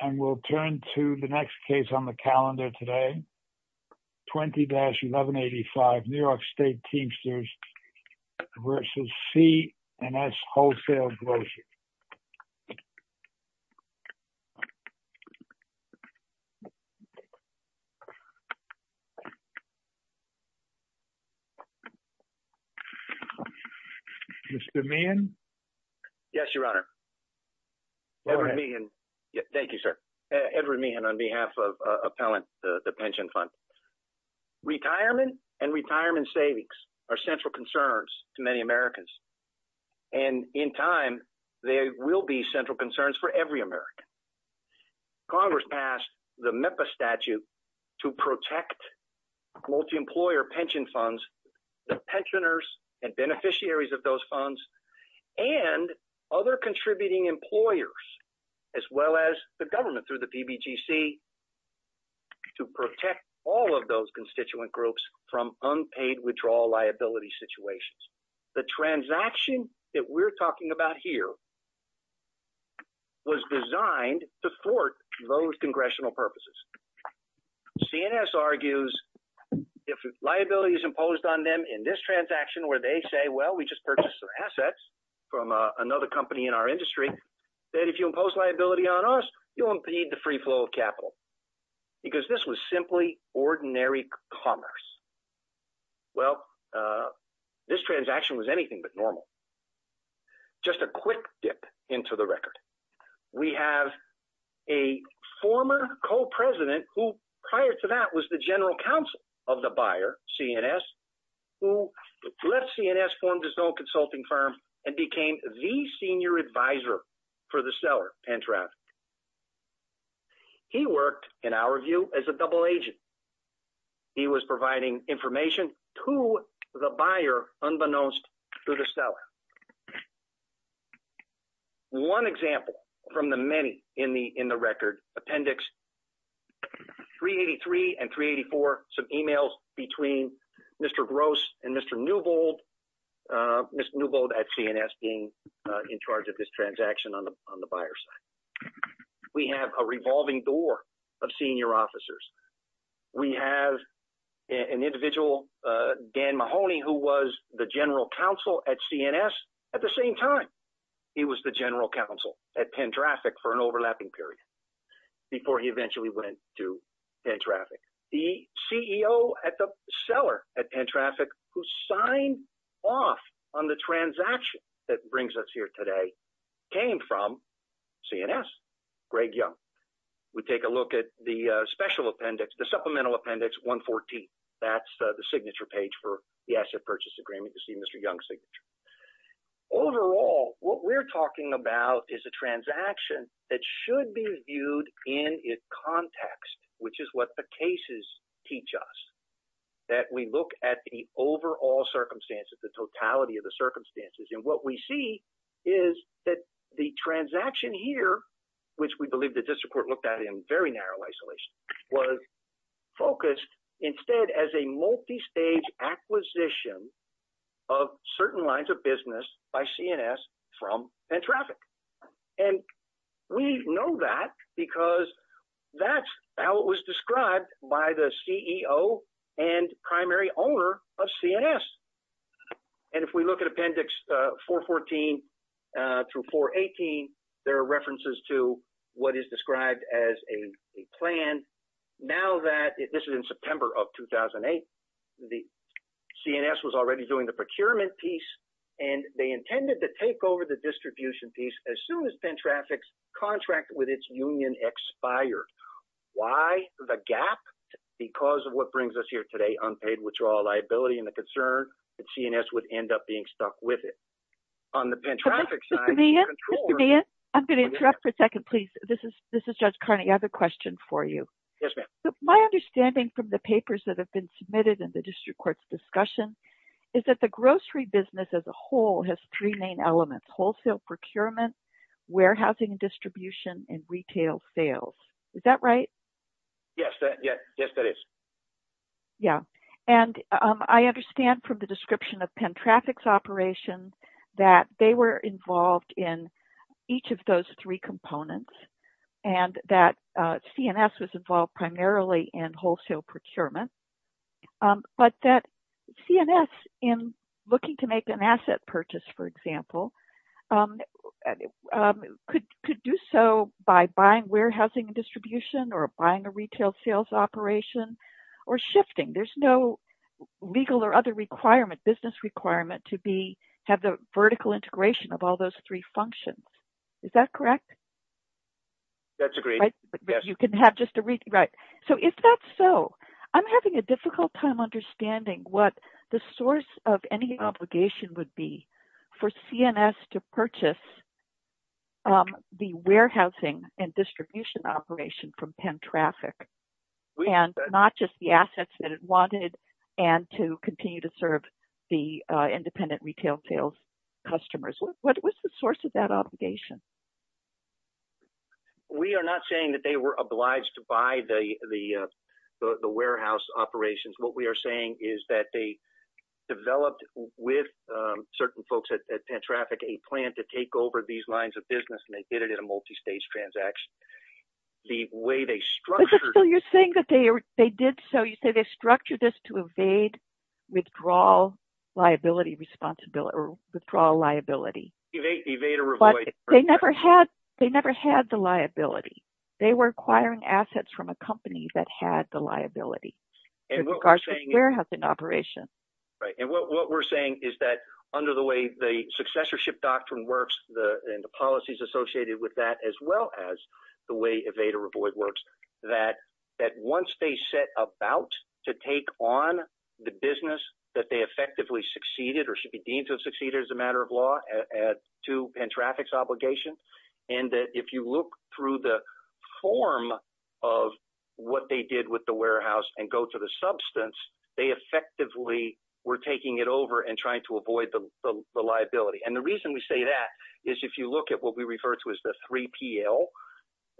And we'll turn to the next case on the calendar today, 20-1185, New York State Teamsters v. C&S Wholesale Grocers. Mr. Meehan? Yes, Your Honor. Edward Meehan. Thank you, sir. Edward Meehan on behalf of Appellant, the pension fund. Retirement and retirement savings are central concerns to many Americans. And in time, they will be central concerns for every American. Congress passed the MEPA statute to protect multi-employer pension funds. The pensioners and beneficiaries of those funds and other contributing employers, as well as the government through the PBGC, to protect all of those constituent groups from unpaid withdrawal liability situations. The transaction that we're talking about here was designed to thwart those congressional purposes. C&S argues if liability is imposed on them in this transaction where they say, well, we just purchased some assets from another company in our industry, that if you impose liability on us, you'll impede the free flow of capital. Because this was simply ordinary commerce. Well, this transaction was anything but normal. Just a quick dip into the record. We have a former co-president who prior to that was the general counsel of the buyer, C&S, who let C&S form his own consulting firm and became the senior advisor for the seller, Pentran. He worked in our view as a double agent. He was providing information to the buyer unbeknownst to the seller. One example from the many in the record appendix 383 and 384, some emails between Mr. Gross and Mr. Newbold at C&S being in charge of this transaction on the buyer's side. We have a revolving door of senior officers. We have an individual, Dan Mahoney, who was the general counsel at C&S. At the same time, he was the general counsel at Pentraffic for an overlapping period before he eventually went to Pentraffic. The CEO at the seller at Pentraffic who signed off on the transaction that brings us here today came from C&S, Greg Young. We take a look at the special appendix, the supplemental appendix 114. That's the signature page for the asset purchase agreement to see Mr. Young's signature. Overall, what we're talking about is a transaction that should be viewed in its context, which is what the cases teach us, that we look at the overall circumstances, the totality of the circumstances. What we see is that the transaction here, which we believe the district court looked at in very narrow isolation, was focused instead as a multi-stage acquisition of certain lines of the business by C&S from Pentraffic. And we know that because that's how it was described by the CEO and primary owner of C&S. And if we look at appendix 414 through 418, there are references to what is described as a plan. Now that this is in September of 2008, the C&S was already doing the procurement piece and they intended to take over the distribution piece as soon as Pentraffic's contract with its union expired. Why the gap? Because of what brings us here today, unpaid withdrawal liability and the concern that C&S would end up being stuck with it. On the Pentraffic side. I'm going to interrupt for a second, please. This is, this is Judge Carney. I have a question for you. My understanding from the papers that have been submitted in the district court's discussion is that the grocery business as a whole has three main elements, wholesale procurement, warehousing and distribution and retail sales. Is that right? Yes. Yes, that is. Yeah. And I understand from the description of Pentraffic's operation that they were primarily in wholesale procurement. But that C&S in looking to make an asset purchase, for example, could do so by buying warehousing and distribution or buying a retail sales operation or shifting. There's no legal or other requirement, business requirement to be, have the vertical integration of all those three functions. Is that correct? That's agreed. But you can have just a re, right. So if that's so, I'm having a difficult time understanding what the source of any obligation would be for C&S to purchase the warehousing and distribution operation from Pentraffic and not just the assets that it wanted and to continue to serve the independent retail sales customers. What was the source of that obligation? We are not saying that they were obliged to buy the, the, uh, the warehouse operations. What we are saying is that they developed with, um, certain folks at Pentraffic, a plan to take over these lines of business and they did it in a multistage transaction. The way they structured. So you're saying that they, they did. So you say they structured this to evade, withdrawal, liability, responsibility, or withdrawal liability. Evade, evade or avoid. They never had, they never had the liability. They were acquiring assets from a company that had the liability. And what we're saying is that under the way the successorship doctrine works, the, and the policies associated with that, as well as the way evade or avoid works that, that once they set about to take on the business that they effectively succeeded or should be deemed to have succeeded as a matter of law at two Pentraffic obligation. And that if you look through the form of what they did with the warehouse and go to the substance, they effectively were taking it over and trying to avoid the liability. And the reason we say that is if you look at what we refer to as the 3PL,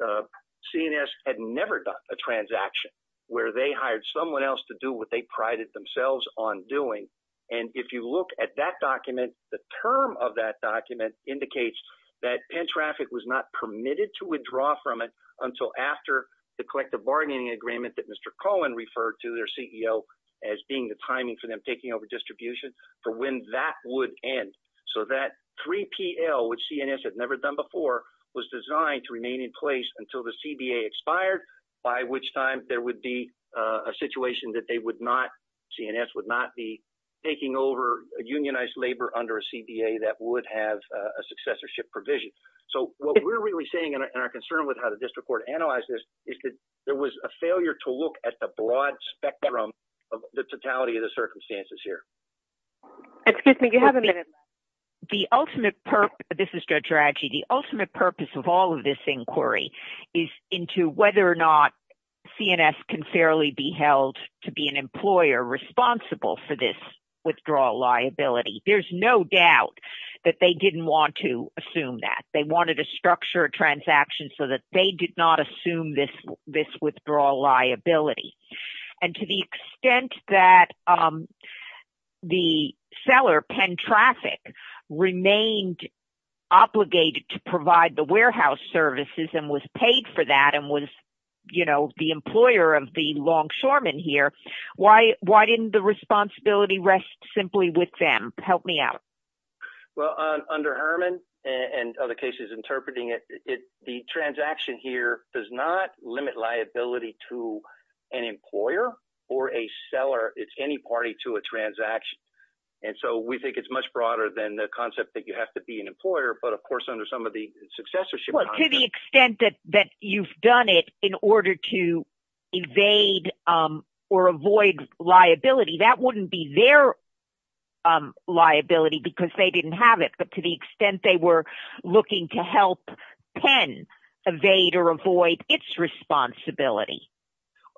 CNS had never done a transaction where they hired someone else to do what they prided themselves on doing. And if you look at that document, the term of that document indicates that Pentraffic was not permitted to withdraw from it until after the collective bargaining agreement that Mr. Cohen referred to their CEO as being the timing for them taking over distribution for when that would end. So that 3PL, which CNS had never done before was designed to remain in place until the CBA expired, by which time there would be a situation that they would not, CNS would not be taking over a unionized labor under a CBA that would have a successorship provision. So what we're really saying in our concern with how the district court analyzed this is that there was a failure to look at the broad spectrum of the totality of the circumstances here. Excuse me, you have a minute. The ultimate purpose, this is Judge Raji, the ultimate purpose of all of this inquiry is into whether or not CNS can voluntarily be held to be an employer responsible for this withdrawal liability. There's no doubt that they didn't want to assume that they wanted to structure a transaction so that they did not assume this, this withdrawal liability. And to the extent that the seller Pentraffic remained obligated to provide the warehouse services and was paid for that and was, you know, the employer of the longshoremen here, why, why didn't the responsibility rest simply with them? Help me out. Well, under Herman and other cases interpreting it, the transaction here does not limit liability to an employer or a seller. It's any party to a transaction. And so we think it's much broader than the concept that you have to be an employer, but of course, under some of the successorship. Well, to the extent that, that you've done it in order to evade or avoid liability, that wouldn't be their liability because they didn't have it. But to the extent they were looking to help Penn evade or avoid its responsibility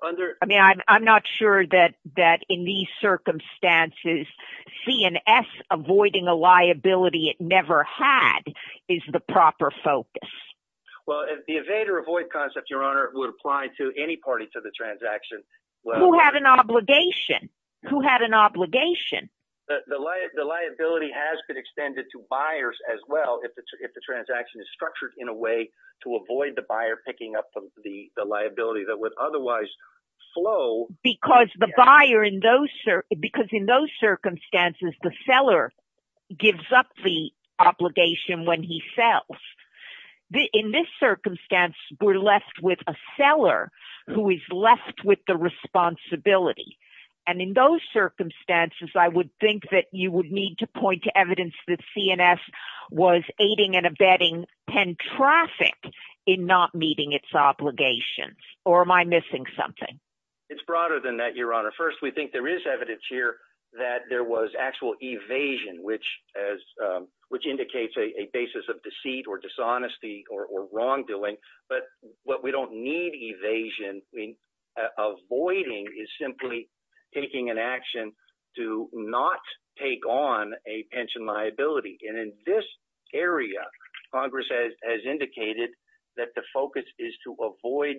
under, I mean, I'm, I'm not sure that that in these circumstances CNS avoiding a liability it never had is the proper focus. Well, if the evade or avoid concept, your owner would apply to any party to the transaction. Well, who had an obligation? Who had an obligation? The liability has been extended to buyers as well. If it's, if the transaction is structured in a way to avoid the buyer picking up the liability that would otherwise flow. Because the buyer in those, because in those circumstances, the seller gives up the obligation when he sells the, in this circumstance, we're left with a seller who is left with the responsibility. And in those circumstances, I would think that you would need to point to evidence that CNS was aiding and abetting Penn traffic in not meeting its obligations or am I missing something? It's broader than that, your honor. First, we think there is evidence here that there was actual evasion, which as, which indicates a basis of deceit or dishonesty or wrongdoing. But what we don't need evasion. Avoiding is simply taking an action to not take on a pension liability. And in this area, Congress has indicated that the focus is to avoid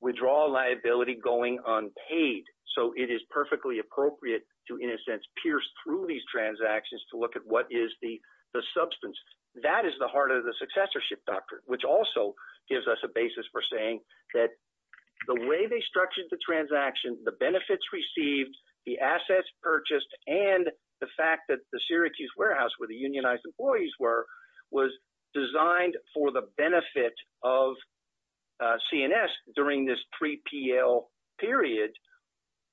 withdrawal liability going unpaid. So it is perfectly appropriate to, in a sense, pierce through these transactions to look at what is the substance that is the heart of the successorship doctrine, which also gives us a basis for saying that the way they structured the transaction, the benefits received, the assets purchased and the fact that the Syracuse warehouse where the unionized employees were, was designed for the benefit of CNS during this 3PL period.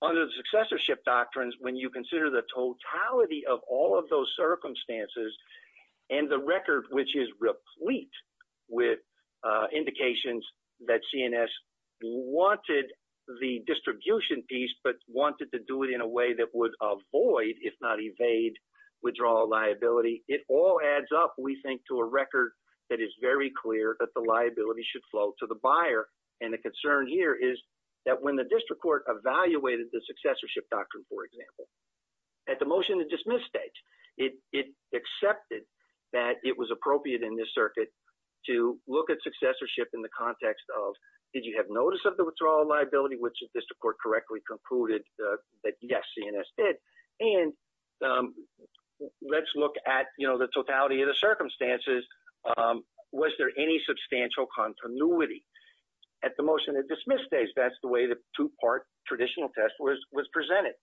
Under the successorship doctrines, when you consider the totality of all of those circumstances and the record, which is replete with indications that CNS wanted the distribution piece, but wanted to do it in a way that would avoid, if not evade, withdrawal liability. It all adds up, we think to a record that is very clear that the liability should flow to the unionized employees. So when the district court evaluated the successorship doctrine, for example, at the motion to dismiss stage, it accepted that it was appropriate in this circuit to look at successorship in the context of, did you have notice of the withdrawal liability, which the district court correctly concluded that yes, CNS did. And let's look at the totality of the circumstances. Was there any substantial continuity at the motion to dismiss stage? That's the way the two part traditional test was presented.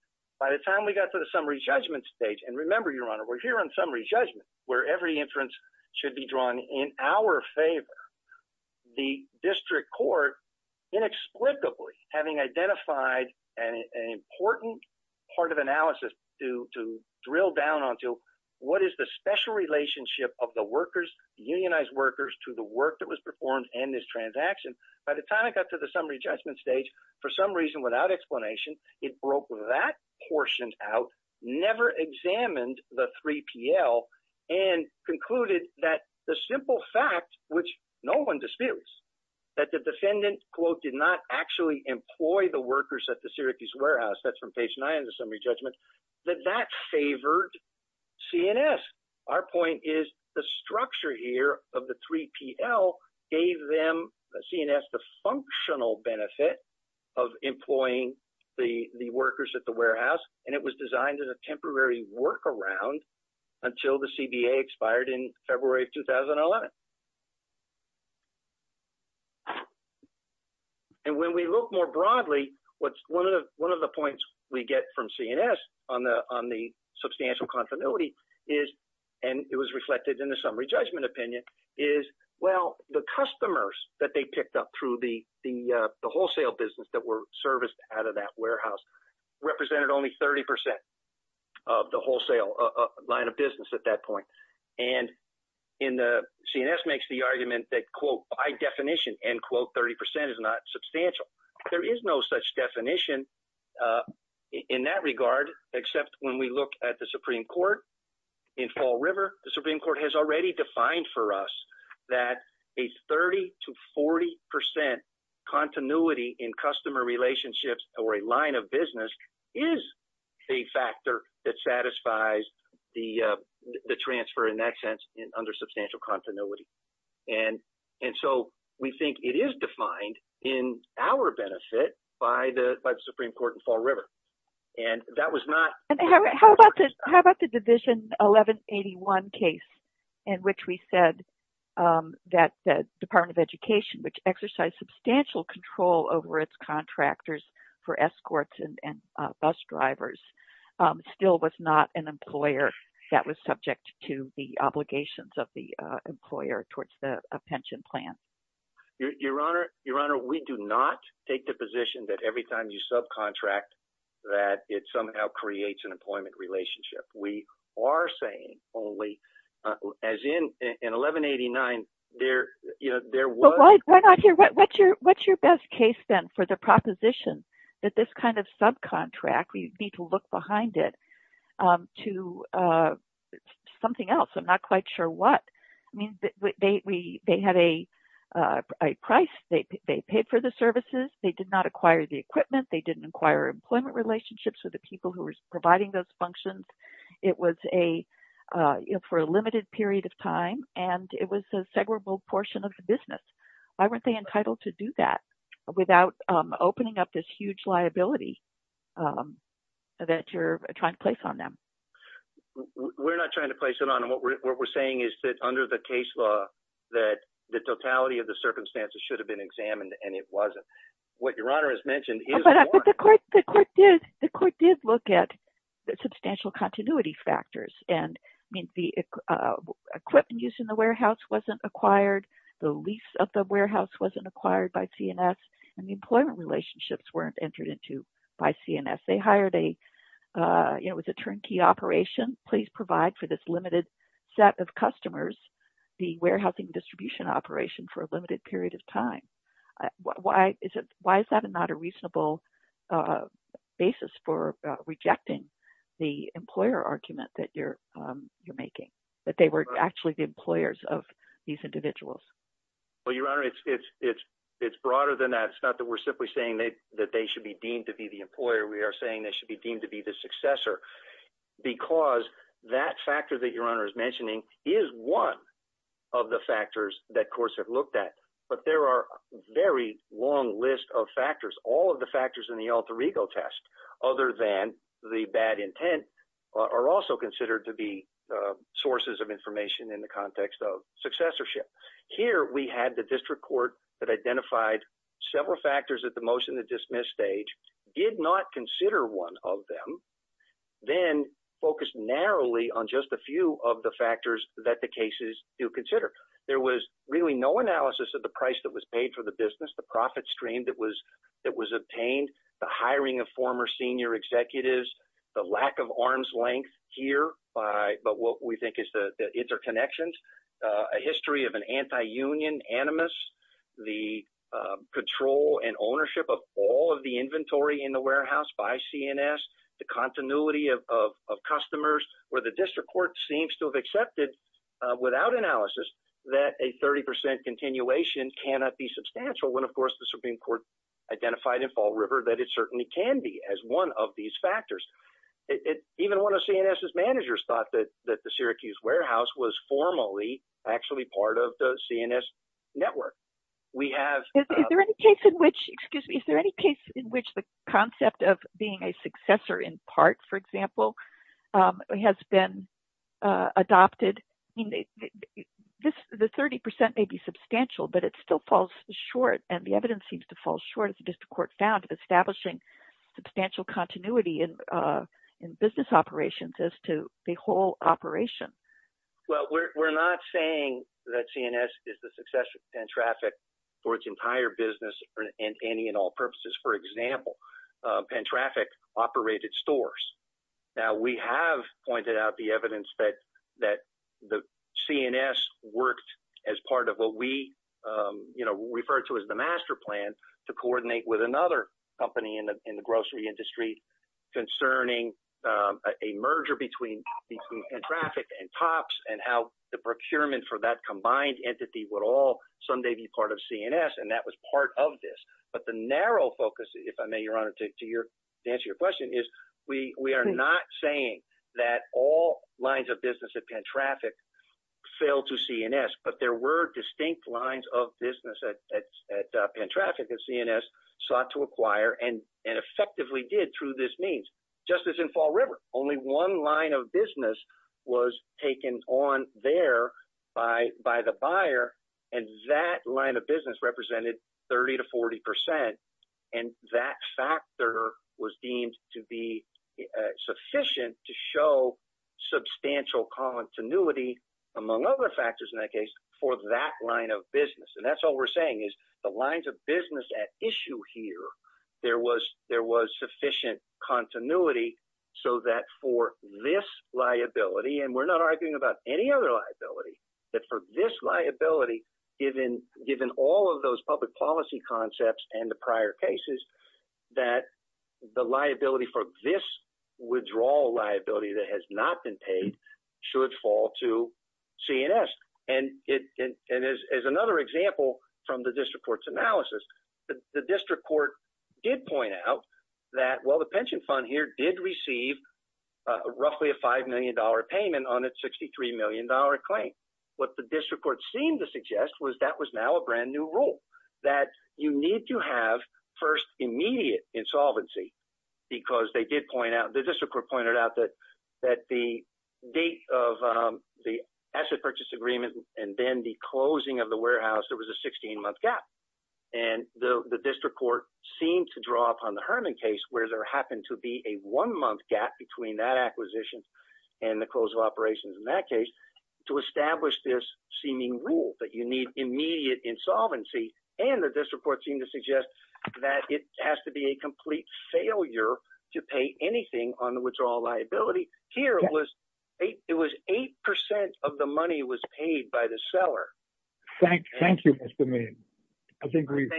By the time we got to the summary judgment stage, and remember your honor, we're here on summary judgment where every inference should be drawn in our favor. The district court inexplicably having identified an important part of analysis to drill down onto what is the special relationship of the workers, unionized workers to the work that was performed and this transaction. By the time it got to the summary judgment stage, for some reason without explanation, it broke that portion out, never examined the 3PL and concluded that the simple fact, which no one disputes that the defendant quote did not actually employ the workers at the Syracuse warehouse. That's from page nine of the summary judgment that that favored CNS. Our point is the structure here of the 3PL gave them the CNS, the functional benefit of employing the workers at the warehouse. And it was designed as a temporary workaround until the CBA expired in February of 2011. And when we look more broadly, what's one of the points we get from CNS on the substantial continuity is, and it was reflected in the summary judgment opinion is, well, the customers that they picked up through the wholesale business that were serviced out of that warehouse represented only 30% of the wholesale line of business. And CNS makes the argument that quote by definition, end quote, 30% is not substantial. There is no such definition in that regard except when we look at the Supreme Court in Fall River, the Supreme Court has already defined for us that a 30 to 40% continuity in customer relationships or a line of business is a factor that satisfies the transfer in that sense under substantial continuity. And so we think it is defined in our benefit by the Supreme Court in Fall River. And that was not- How about the Division 1181 case in which we said that the Department of Education, which exercised substantial control over its contractors for escorts and bus drivers, still was not an employer that was subject to the obligations of the employer towards a pension plan? Your Honor, we do not take the position that every time you subcontract that it somehow creates an employment relationship. We are saying only as in 1189, there was- Well, why not here? What's your best case then for the proposition that this kind of subcontract, we need to look behind it to something else? I'm not quite sure what. I mean, they had a price, they paid for the services, they did not acquire the equipment, they didn't acquire employment relationships with the people who were providing those functions. It was for a limited period of time and it was a segregable portion of the business. Why weren't they entitled to do that without opening up this huge liability? That you're trying to place on them. We're not trying to place it on them. What we're saying is that under the case law, that the totality of the circumstances should have been examined and it wasn't. What Your Honor has mentioned is- But the court did look at the substantial continuity factors. And I mean, the equipment used in the warehouse wasn't acquired. The lease of the warehouse wasn't acquired by CNS and the employment relationships weren't entered into by CNS. They hired a, you know, it was a turnkey operation. Please provide for this limited set of customers, the warehousing distribution operation for a limited period of time. Why is it, why is that not a reasonable basis for rejecting the employer argument that you're, you're making? That they were actually the employers of these individuals? Well, Your Honor, it's broader than that. It's not that we're simply saying that they should be deemed to be the employer. We are saying they should be deemed to be the successor because that factor that Your Honor is mentioning is one of the factors that courts have looked at. But there are very long list of factors. All of the factors in the alter ego test, other than the bad intent are also considered to be sources of information in the context of successorship. Here we had the district court that identified several factors that the motion to dismiss stage did not consider one of them, then focused narrowly on just a few of the factors that the cases do consider. There was really no analysis of the price that was paid for the business, the profit stream that was, that was obtained, the hiring of former senior executives, the lack of arm's length here by, but what we think is the interconnections, a history of an anti-union animus, the control and ownership of all of the inventory in the warehouse by CNS, the continuity of, of customers where the district court seems to have accepted without analysis that a 30% continuation cannot be substantial. When of course the Supreme Court identified in fall river that it certainly can be as one of these factors. It even one of CNS's managers thought that that the Syracuse warehouse was formally actually part of the CNS network. We have, is there any case in which, excuse me, is there any case in which the concept of being a successor in part, for example, has been adopted in this, the 30% may be substantial, but it still falls short and the evidence seems to fall short of the district court found establishing substantial continuity in in business operations as to the whole operation. Well, we're not saying that CNS is the successor and traffic for its entire business and any and all purposes. For example, Penn traffic operated stores. Now we have pointed out the evidence that, that the CNS worked as part of what we you know, referred to as the master plan to coordinate with another company in the, in the grocery industry concerning a merger between, between traffic and tops and how the procurement for that combined entity would all someday be part of CNS. And that was part of this. But the narrow focus, if I may, your honor to your answer, your question is we, we are not saying that all lines of business at Penn traffic fail to CNS, but there were distinct lines of business at, at, at Penn traffic at CNS sought to acquire and, and effectively did through this means just as in fall river, only one line of business was taken on there by, by the buyer. And that line of business represented 30 to 40%. And that factor was deemed to be sufficient to show substantial continuity among other factors in that case for that line of business. And that's all we're saying is the lines of business at issue here, there was, there was sufficient continuity so that for this liability, and we're not arguing about any other liability that for this liability, given, given all of those public policy concepts and the prior cases that the liability for this withdrawal liability that has not been paid should fall to CNS. And it, and as another example from the district court's analysis, the district court did point out that, well, the pension fund here did receive roughly a $5 million payment on its $63 million claim. What the district court seemed to suggest was that was now a brand new rule that you need to have first immediate insolvency because they did point out, the district court pointed out that, that the date of the asset purchase agreement and then the closing of the district court seemed to draw upon the Herman case where there happened to be a one month gap between that acquisition and the close of operations in that case to establish this seeming rule that you need immediate insolvency. And the district court seemed to suggest that it has to be a complete failure to pay anything on the withdrawal liability here was eight. It was 8% of the money was paid by the seller. Thank you. Thank you. I think we've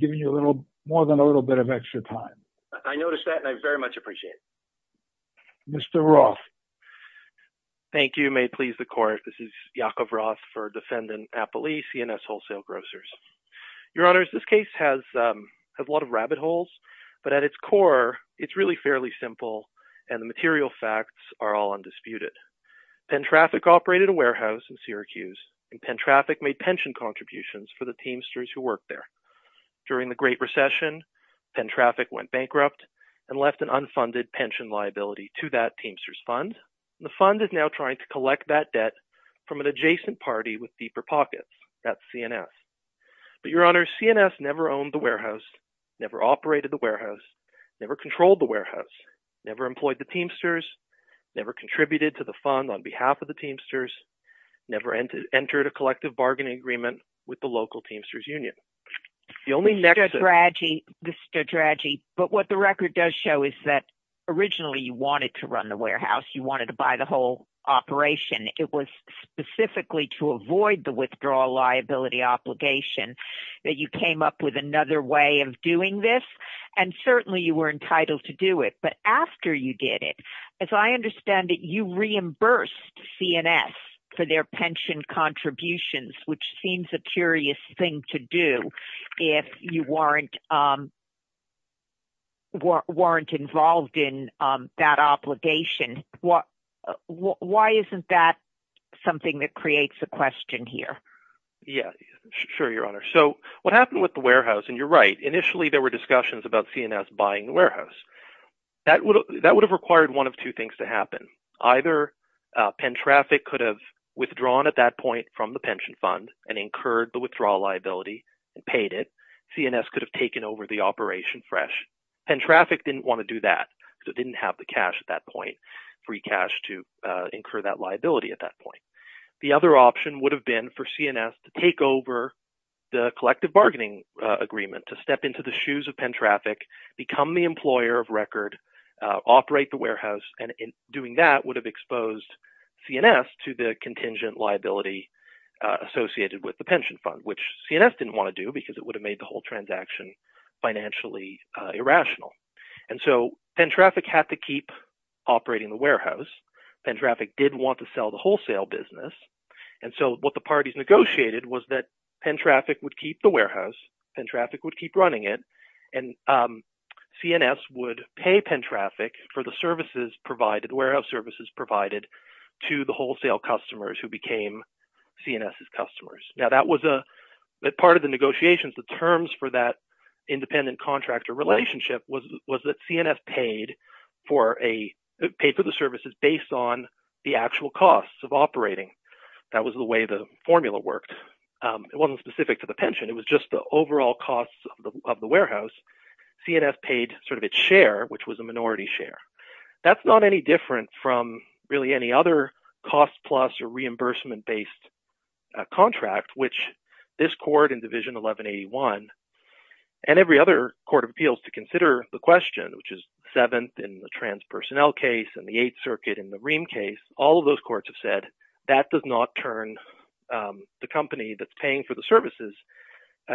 given you a little more than a little bit of extra time. I noticed that and I very much appreciate it. Mr. Roth. Thank you. May it please the court. This is Yaakov Roth for defendant, Applee CNS wholesale grocers. Your honors, this case has a lot of rabbit holes, but at its core it's really fairly simple and the material facts are all undisputed. Pen traffic operated a warehouse in Syracuse and pen traffic made pension contributions for the teamsters who worked there during the great recession. Pen traffic went bankrupt and left an unfunded pension liability to that teamsters fund. The fund is now trying to collect that debt from an adjacent party with deeper pockets at CNS, but your honors, CNS never owned the warehouse, never operated the warehouse, never controlled the warehouse, never employed the teamsters, never contributed to the fund on behalf of the teamsters, never entered a collective bargaining agreement with the local teamsters union. The only nexus. But what the record does show is that originally you wanted to run the warehouse. You wanted to buy the whole operation. It was specifically to avoid the withdrawal liability obligation that you came up with another way of doing this. And certainly you were entitled to do it. But after you did it, as I understand it, you reimbursed CNS for their pension contributions, which seems a curious thing to do if you weren't, um, weren't involved in, um, that obligation. What, why isn't that something that creates a question here? Yeah, sure. Your honor. So what happened with the warehouse and you're right, initially there were discussions about CNS buying the warehouse. That would, that would have required one of two things to happen. Either a Penn traffic could have withdrawn at that point from the pension fund and incurred the withdrawal liability and paid it. CNS could have taken over the operation fresh and traffic didn't want to do that. So it didn't have the cash at that point, free cash to incur that liability. At that point, the other option would have been for CNS to take over the collective bargaining agreement to step into the shoes of Penn traffic, become the employer of record, operate the warehouse. And in doing that would have exposed CNS to the contingent liability associated with the pension fund, which CNS didn't want to do because it would have made the whole transaction financially irrational. And so Penn traffic had to keep operating the warehouse. Penn traffic did want to sell the wholesale business. And so what the parties negotiated was that Penn traffic would keep the warehouse and traffic would keep running it. And CNS would pay Penn traffic for the services provided, the warehouse services provided to the wholesale customers who became CNS's customers. Now that was a part of the negotiations. The terms for that independent contractor relationship was that CNS paid for a paid for the services based on the actual costs of operating. That was the way the formula worked. It wasn't specific to the pension. It was just the overall costs of the warehouse. CNS paid sort of its share, which was a minority share. That's not any different from really any other cost plus or reimbursement based contract, which this court in division 1181, and every other court of appeals to consider the question, which is seventh in the trans personnel case and the eighth circuit in the Ream case, all of those courts have said that does not turn the company that's paying for the services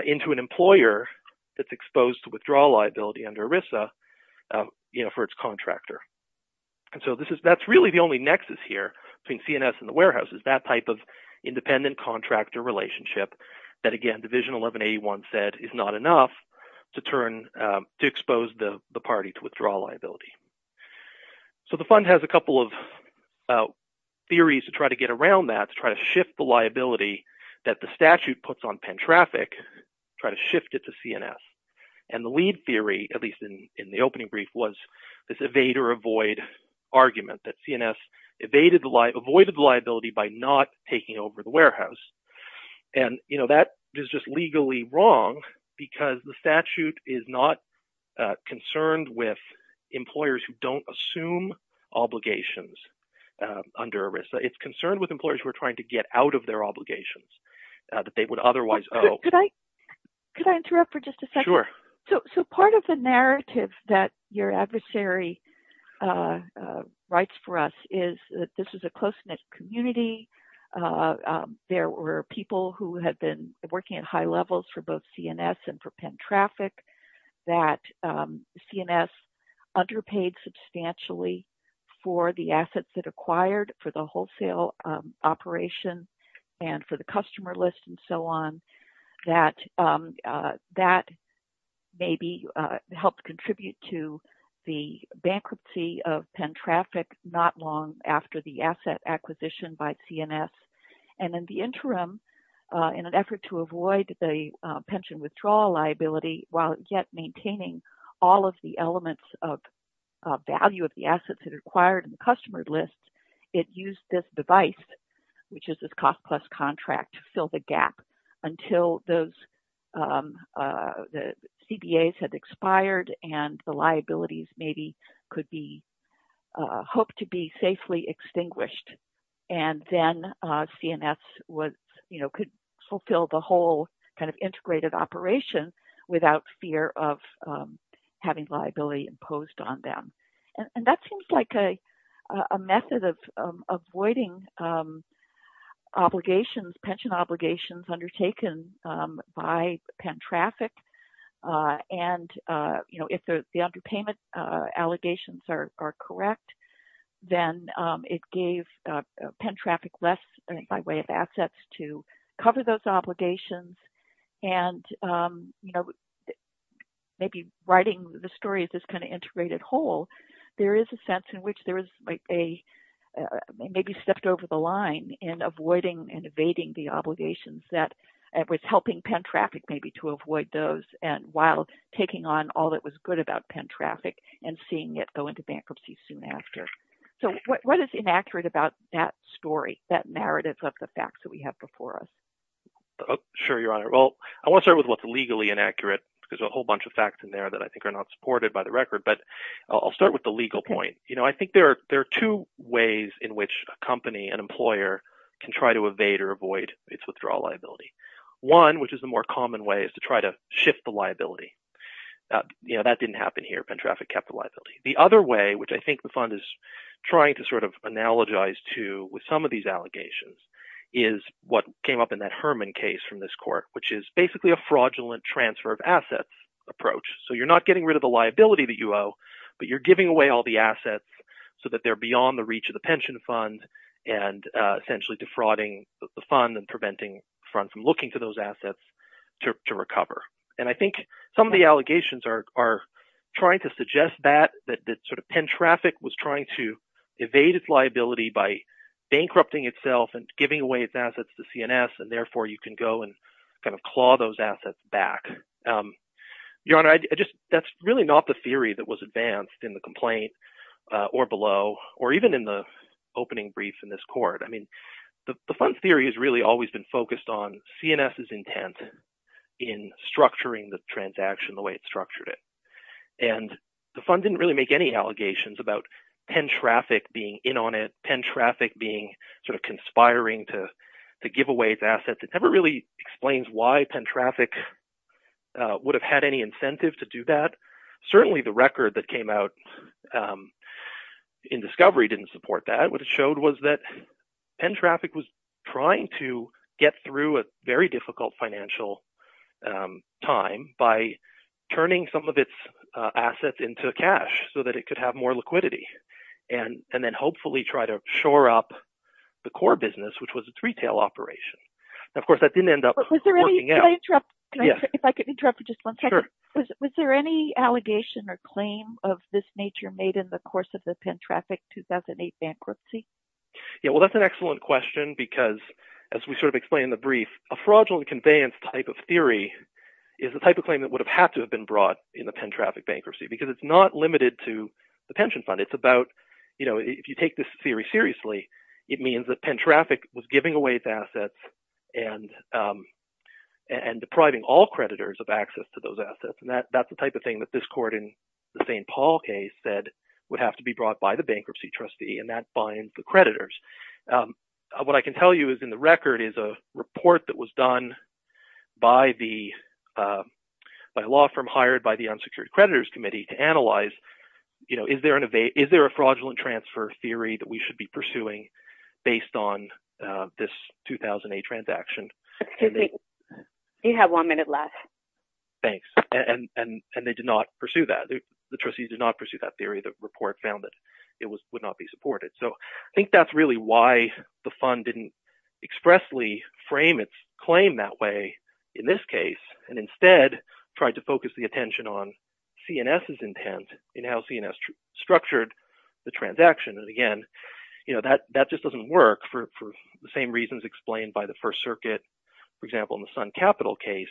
into an employer that's exposed to withdrawal liability under ERISA, you know, for its contractor. And so this is, that's really the only nexus here between CNS and the warehouses, that type of independent contractor relationship that again, division 1181 said is not enough to turn to expose the party to withdraw liability. So the fund has a couple of theories to try to get around that, is try to shift the liability that the statute puts on Penn traffic, try to shift it to CNS. And the lead theory, at least in, in the opening brief was this evade or avoid argument that CNS evaded the liability, avoided the liability by not taking over the warehouse. And you know, that is just legally wrong because the statute is not concerned with employers who don't assume obligations under ERISA. It's concerned with employers who are trying to get out of their obligations that they would otherwise owe. Could I, could I interrupt for just a second? Sure. So, so part of the narrative that your adversary writes for us is that this is a close knit community. There were people who had been working at high levels for both CNS and for Penn traffic that CNS underpaid substantially for the assets that acquired for the wholesale operation and for the customer list and so on that that maybe helped contribute to the bankruptcy of Penn traffic not long after the asset acquisition by CNS. And in the interim in an effort to avoid the pension withdrawal liability, while yet maintaining all of the elements of value of the assets that are acquired in the customer list, it used this device, which is this cost plus contract to fill the gap until those the CBAs had expired and the liabilities maybe could be hoped to be safely extinguished. And then CNS was, you know, could fulfill the whole kind of integrated operation without fear of having liability imposed on them. And that seems like a method of avoiding obligations, pension obligations undertaken by Penn traffic. And you know, if the underpayment allegations are correct, then it gave Penn traffic less by way of assets to cover those obligations. And, you know, maybe writing the story is this kind of integrated whole, there is a sense in which there is a maybe stepped over the line in avoiding and evading the obligations that was helping Penn traffic maybe to avoid those and while taking on all that was good about Penn traffic and seeing it go into bankruptcy soon after. So what is inaccurate about that story, that narrative of the facts that we have before us? Sure. Your Honor. Well, I want to start with what's legally inaccurate because a whole bunch of facts in there that I think are not supported by the record, but I'll start with the legal point. You know, I think there are, there are two ways in which a company, an employer can try to evade or avoid its withdrawal liability. One, which is the more common way is to try to shift the liability. You know, that didn't happen here. Penn traffic kept the liability. The other way, which I think the fund is trying to sort of analogize to with some of these cases from this court, which is basically a fraudulent transfer of assets approach. So you're not getting rid of the liability that you owe, but you're giving away all the assets so that they're beyond the reach of the pension fund and essentially defrauding the fund and preventing funds from looking to those assets to recover. And I think some of the allegations are trying to suggest that that sort of Penn traffic was trying to evade its liability by bankrupting itself and giving away its assets to CNS. And therefore you can go and kind of claw those assets back. Your Honor, I just, that's really not the theory that was advanced in the complaint or below or even in the opening brief in this court. I mean, the fund theory has really always been focused on CNS's intent in structuring the transaction, the way it's structured it. And the fund didn't really make any allegations about Penn traffic being in on it. Penn traffic being sort of conspiring to give away its assets. It never really explains why Penn traffic would have had any incentive to do that. Certainly the record that came out in discovery didn't support that. What it showed was that Penn traffic was trying to get through a very difficult financial time by turning some of its assets into cash so that it could have more liquidity and then hopefully try to shore up the core business, which was a retail operation. Now, of course that didn't end up working out. Can I interrupt? If I could interrupt for just one second. Was there any allegation or claim of this nature made in the course of the Penn traffic 2008 bankruptcy? Yeah, well that's an excellent question because as we sort of explained in the brief, a fraudulent conveyance type of theory is the type of claim that would have had to have been brought in the Penn traffic bankruptcy because it's not limited to the pension fund. It's about, you know, if you take this theory seriously, it means that Penn traffic was giving away its assets and depriving all creditors of access to those assets. And that's the type of thing that this court in the St. Paul case said would have to be brought by the bankruptcy trustee and that binds the creditors. What I can tell you is in the record is a report that was done by a law firm hired by the unsecured creditors committee to analyze, you know, is there an evade, is there a fraudulent transfer theory that we should be pursuing based on this 2008 transaction? You have one minute left. Thanks. And, and, and they did not pursue that. The trustees did not pursue that theory. The report found that it was, would not be supported. So I think that's really why the fund didn't expressly frame its claim that way in this case, and instead tried to focus the attention on CNS's intent in how CNS structured the transaction. And again, you know, that, that just doesn't work for the same reasons explained by the first circuit. For example, in the sun capital case,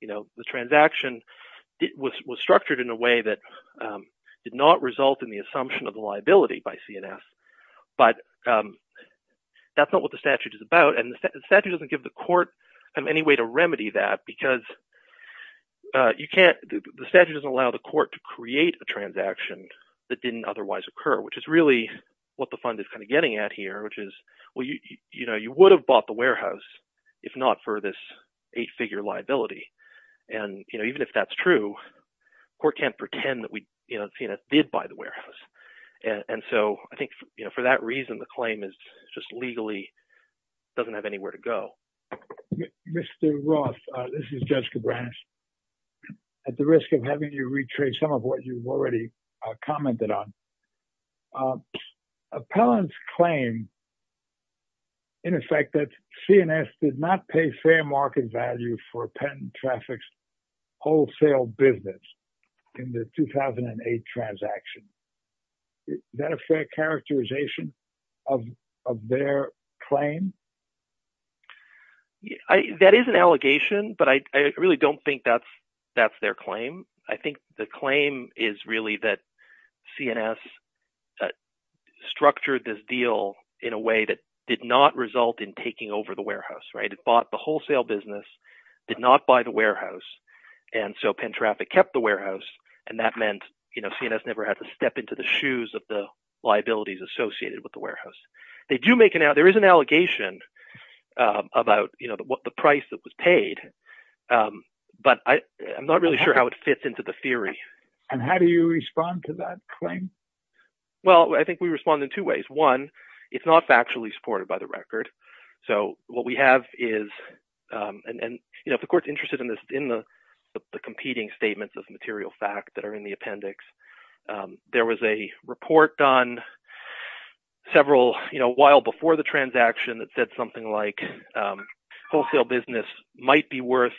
you know, the transaction was structured in a way that did not result in the assumption of the liability by CNS, but that's not what the statute is about. And the statute doesn't give the court any way to remedy that because you can't, the statute doesn't allow the court to create a transaction that didn't otherwise occur, which is really what the fund is kind of getting at here, which is, well, you, you know, you would have bought the warehouse if not for this eight figure liability. And, you know, even if that's true, court can't pretend that we, you know, CNS did buy the warehouse. And so I think, you know, for that reason, the claim is just legally doesn't have anywhere to go. Mr. Roth, this is Judge Cabrera at the risk of having you retrace some of what you've already commented on. Appellant's claim in effect that CNS did not pay fair market value for a patent traffics wholesale business in the 2008 transaction. Is that a fair characterization of, of their claim? That is an allegation, but I really don't think that's, that's their claim. I think the claim is really that CNS structured this deal in a way that did not result in taking over the warehouse, right? It bought the wholesale business, did not buy the warehouse. And so Penn traffic kept the warehouse. And that meant, you know, CNS never had to step into the shoes of the liabilities associated with the warehouse. They do make it out. There is an allegation about, you know, the price that was paid. But I, I'm not really sure how it fits into the theory. And how do you respond to that claim? Well, I think we respond in two ways. One, it's not factually supported by the record. So what we have is and, and you know, if the court's interested in this in the competing statements of material fact that are in the appendix there was a report done several, you know, while before the transaction that said something like wholesale business might be worth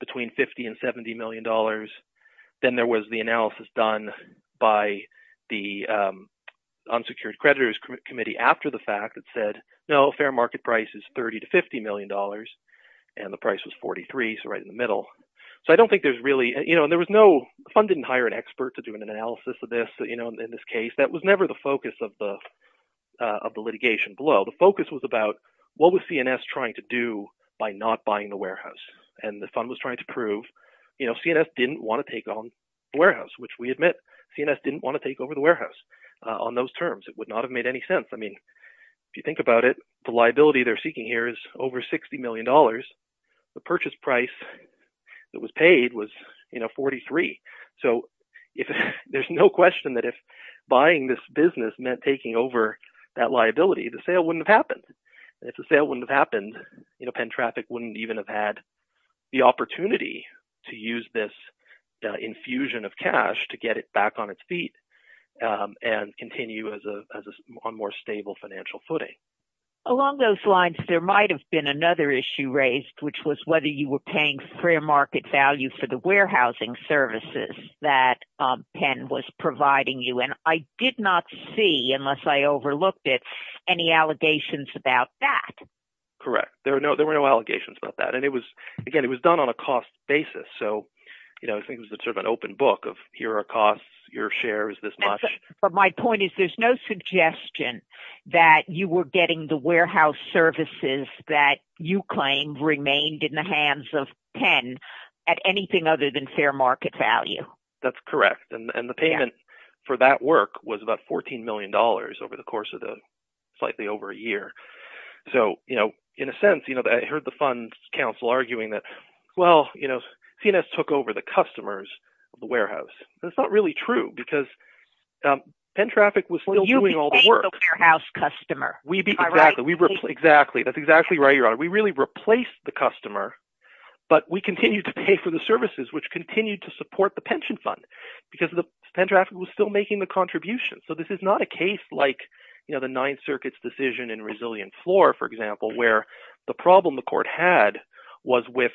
between 50 and $70 million. Then there was the analysis done by the unsecured creditors committee after the fact that said, no, fair market price is 30 to $50 million and the price was 43. So right in the middle. So I don't think there's really, you know, there was no fund didn't hire an expert to do an analysis of this, you know, in this case, that was never the focus of the, of the litigation below. The focus was about what was CNS trying to do by not buying the warehouse. And the fund was trying to prove, you know, CNS didn't want to take on the warehouse, which we admit CNS didn't want to take over the warehouse on those terms. It would not have made any sense. I mean, if you think about it, the liability they're seeking here is over $60 million. The purchase price that was paid was, you know, 43. So if there's no question that if buying this business meant taking over that liability, the sale wouldn't have happened. If the sale wouldn't have happened, you know, Penn traffic wouldn't even have had the opportunity to use this infusion of cash to get it back on its feet and continue as a, as a more stable financial footing. Along those lines, there might've been another issue raised, which was whether you were paying for your market value for the warehousing services that Penn was providing you. And I did not see, unless I overlooked it, any allegations about that. Correct. There were no, there were no allegations about that. And it was, again, it was done on a cost basis. So, you know, I think it was sort of an open book of here are costs, your share is this much. But my point is there's no suggestion that you were getting the warehouse services that you claim remained in the hands of Penn at anything other than fair market value. That's correct. And the payment for that work was about $14 million over the course of the slightly over a year. So, you know, in a sense, you know, I heard the fund council arguing that, well, you know, CNS took over the customers of the warehouse. That's not really true because Penn traffic was still doing all the work. You became the warehouse customer. We be exactly, we replace, exactly. That's exactly right, Your Honor. We really replaced the customer, but we continue to pay for the services, which continued to support the pension fund because the Penn traffic was still making the contributions. So this is not a case like, you know, the ninth circuit's decision in Resilient Floor, for example, where the problem the court had was with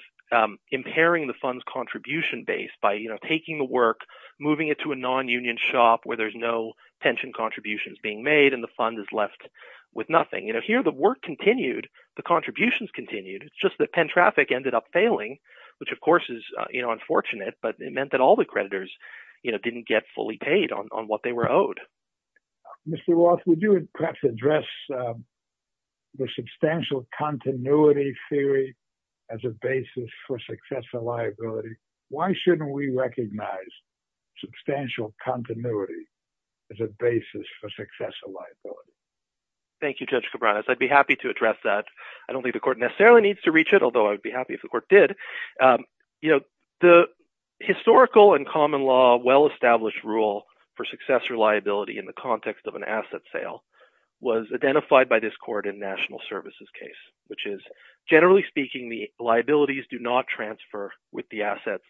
impairing the funds contribution based by, you know, taking the work, moving it to a non-union shop where there's no pension contributions being made and the fund is left with nothing, you know, here, the work continued, the contributions continued. It's just that Penn traffic ended up failing, which of course is unfortunate, but it meant that all the creditors, you know, didn't get fully paid on what they were owed. Mr. Roth, would you perhaps address the substantial continuity theory as a basis for success or liability? Why shouldn't we recognize substantial continuity as a basis for success or liability? Thank you, Judge Cabranes. I'd be happy to address that. I don't think the court necessarily needs to reach it, although I'd be happy if the court did. You know, the historical and common law well-established rule for success or liability in the context of an asset sale was identified by this court in national services case, which is generally speaking, the liabilities do not transfer with the assets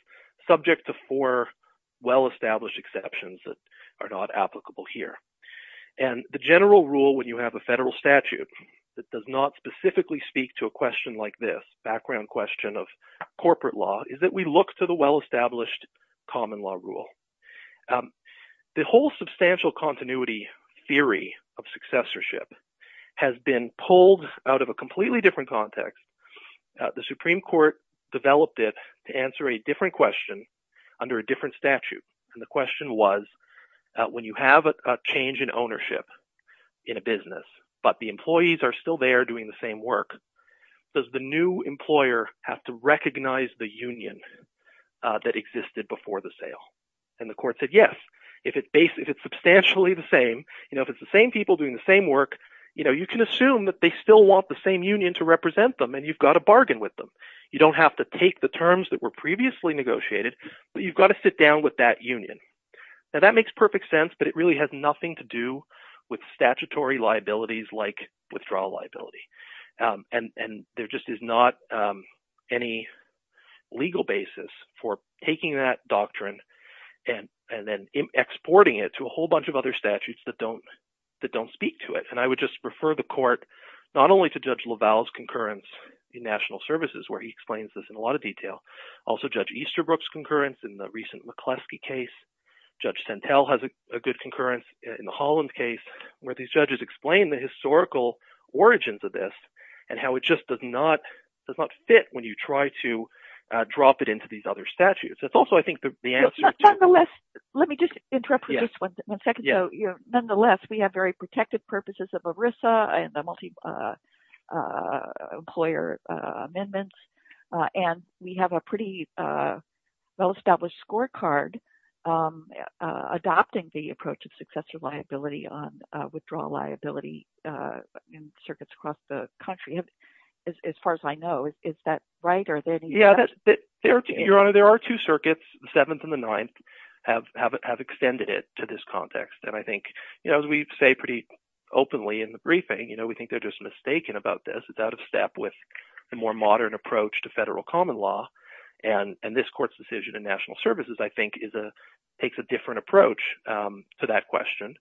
subject to four well-established exceptions that are not applicable here. And the general rule when you have a federal statute that does not specifically speak to a question like this background question of corporate law is that we look to the well-established common law rule. The whole substantial continuity theory of successorship has been pulled out of a completely different context. The Supreme Court developed it to answer a different question under a different statute. And the question was when you have a change in ownership in a business, but the employees are still there doing the same work, does the new employer have to recognize the union that existed before the sale? And the court said, yes, if it's substantially the same, you know, if it's the same people doing the same work, you know, you can assume that they still want the same union to represent them and you've got to bargain with them. You don't have to take the terms that were previously negotiated, but you've got to sit down with that union. Now that makes perfect sense, but it really has nothing to do with statutory liabilities like withdrawal liability. And there just is not any legal basis for taking that doctrine and then exporting it to a whole bunch of other statutes that don't speak to it. And I would just prefer the court, not only to judge LaValle's concurrence in national services, where he explains this in a lot of detail, also judge Easterbrook's concurrence in the recent McCleskey case, judge Centel has a good concurrence in the Holland case where these judges explain the historical origins of this and how it just does not fit when you try to drop it into these other statutes. That's also, I think the answer to let me just interrupt for just one second. So nonetheless, we have very protected purposes of ERISA and the multi employer amendments. And we have a pretty well-established scorecard adopting the approach of successor liability on withdrawal liability in circuits across the country. As far as I know, is that right? Yeah, Your Honor, there are two circuits, the seventh and the ninth have extended it to this context. And I think, you know, as we say pretty openly in the briefing, you know, we think they're just mistaken about this. It's out of step with the more modern approach to federal common law and this court's decision in national services, I think takes a different approach to that question.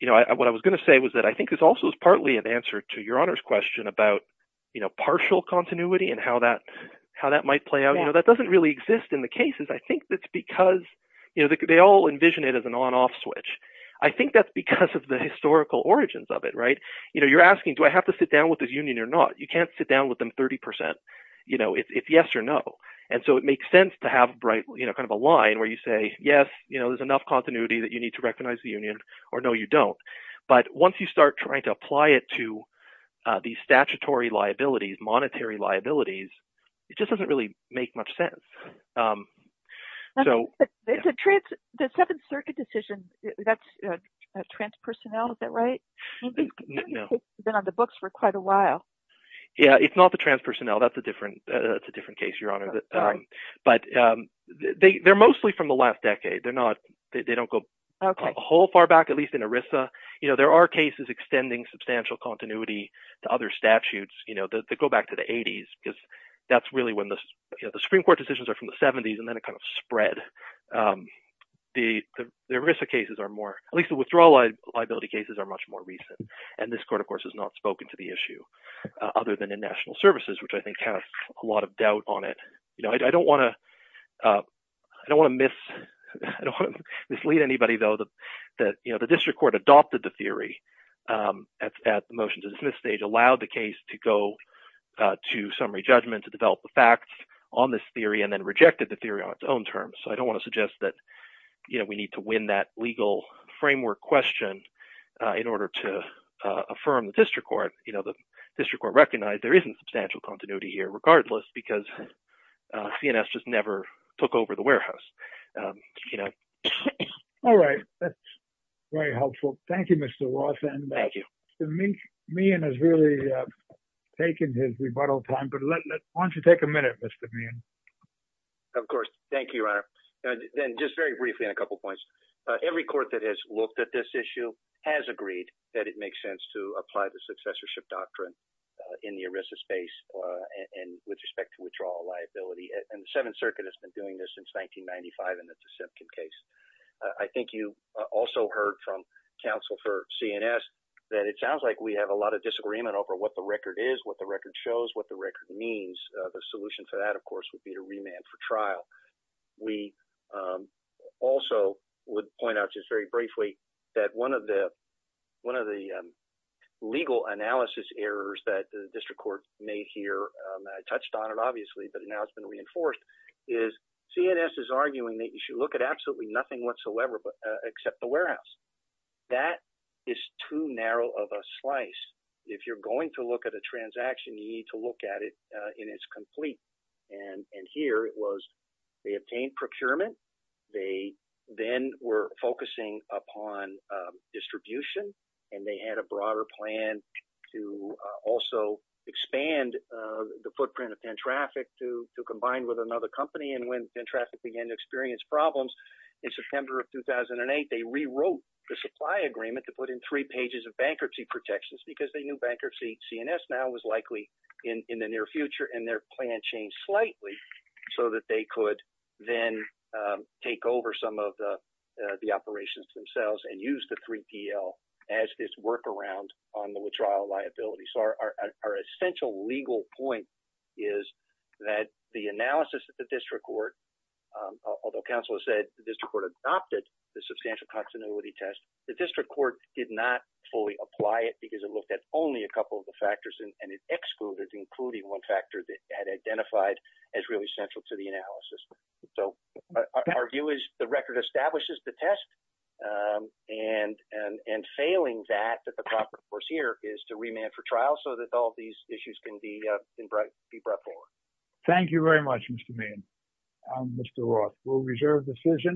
You know, what I was going to say was that I think this also is partly an answer to your Honor's question about, you know, partial continuity and how that might play out. You know, that doesn't really exist in the cases. I think that's because, you know, they all envision it as an on-off switch. I think that's because of the historical origins of it, right? You know, you're asking, do I have to sit down with this union or not? You can't sit down with them 30%, you know, if yes or no. And so it makes sense to have a bright, you know, kind of a line where you say, yes, you know, there's enough continuity that you need to recognize the union or no, you don't. But once you start trying to apply it to these statutory liabilities, monetary liabilities, it just doesn't really make much sense. So the seventh circuit decision, that's a trans personnel, is that right? It's been on the books for quite a while. Yeah. It's not the trans personnel. That's a different, that's a different case, Your Honor. But they, they're mostly from the last decade. They're not, they don't go whole far back, at least in ERISA. You know, there are cases extending substantial continuity to other statutes, you know, that go back to the eighties because that's really when the, you know, the Supreme Court decisions are from the seventies and then it kind of spread. The ERISA cases are more, at least the withdrawal liability cases are much more recent. And this court of course has not spoken to the issue other than in national services, which I think has a lot of doubt on it. You know, I don't want to, I don't want to mislead anybody though, that, you know, the district court adopted the theory at the motion to dismiss stage, allowed the case to go to summary judgment, to develop the facts on this theory and then rejected the theory on its own terms. So I don't want to suggest that, you know, we need to win that legal framework question in order to affirm the district court, you know, the district court recognized there isn't substantial continuity here regardless because CNS just never took over the warehouse, you know. All right. That's very helpful. Thank you, Mr. Ross. And Mr. Meehan has really taken his rebuttal time, but why don't you take a minute, Mr. Meehan. Of course. Thank you, Your Honor. And then just very briefly, in a couple of points, every court that has looked at this issue has agreed that it makes sense to apply the successorship doctrine in the ERISA space and with respect to withdrawal liability and the seventh circuit has been doing this since 1995. And that's the Simpkin case. I think you also heard from counsel for CNS that it sounds like we have a lot of disagreement over what the record is, what the record shows, what the record means. The solution for that, of course, would be to remand for trial. We also would point out just very briefly that one of the, one of the legal analysis errors that the district court may hear, I touched on it obviously, but now it's been reinforced, is CNS is arguing that you should look at absolutely nothing whatsoever except the warehouse. That is too narrow of a slice. If you're going to look at a transaction, you need to look at it and it's complete. And here it was, they obtained procurement. They then were focusing upon distribution and they had a broader plan to also expand the warehouse to combine with another company. And when traffic began to experience problems in September of 2008, they rewrote the supply agreement to put in three pages of bankruptcy protections because they knew bankruptcy, CNS now was likely in the near future and their plan changed slightly so that they could then take over some of the operations themselves and use the 3PL as this workaround on the withdrawal liability. So our essential legal point is that the analysis that the district court, although council has said, the district court adopted the substantial continuity test, the district court did not fully apply it because it looked at only a couple of the factors and it excluded including one factor that had identified as really central to the analysis. So our view is the record establishes the test and failing that, that the proper course here is to remand for trial so that all of these issues can be brought forward. Thank you very much, Mr. Mann. Mr. Roth, we'll reserve the decision.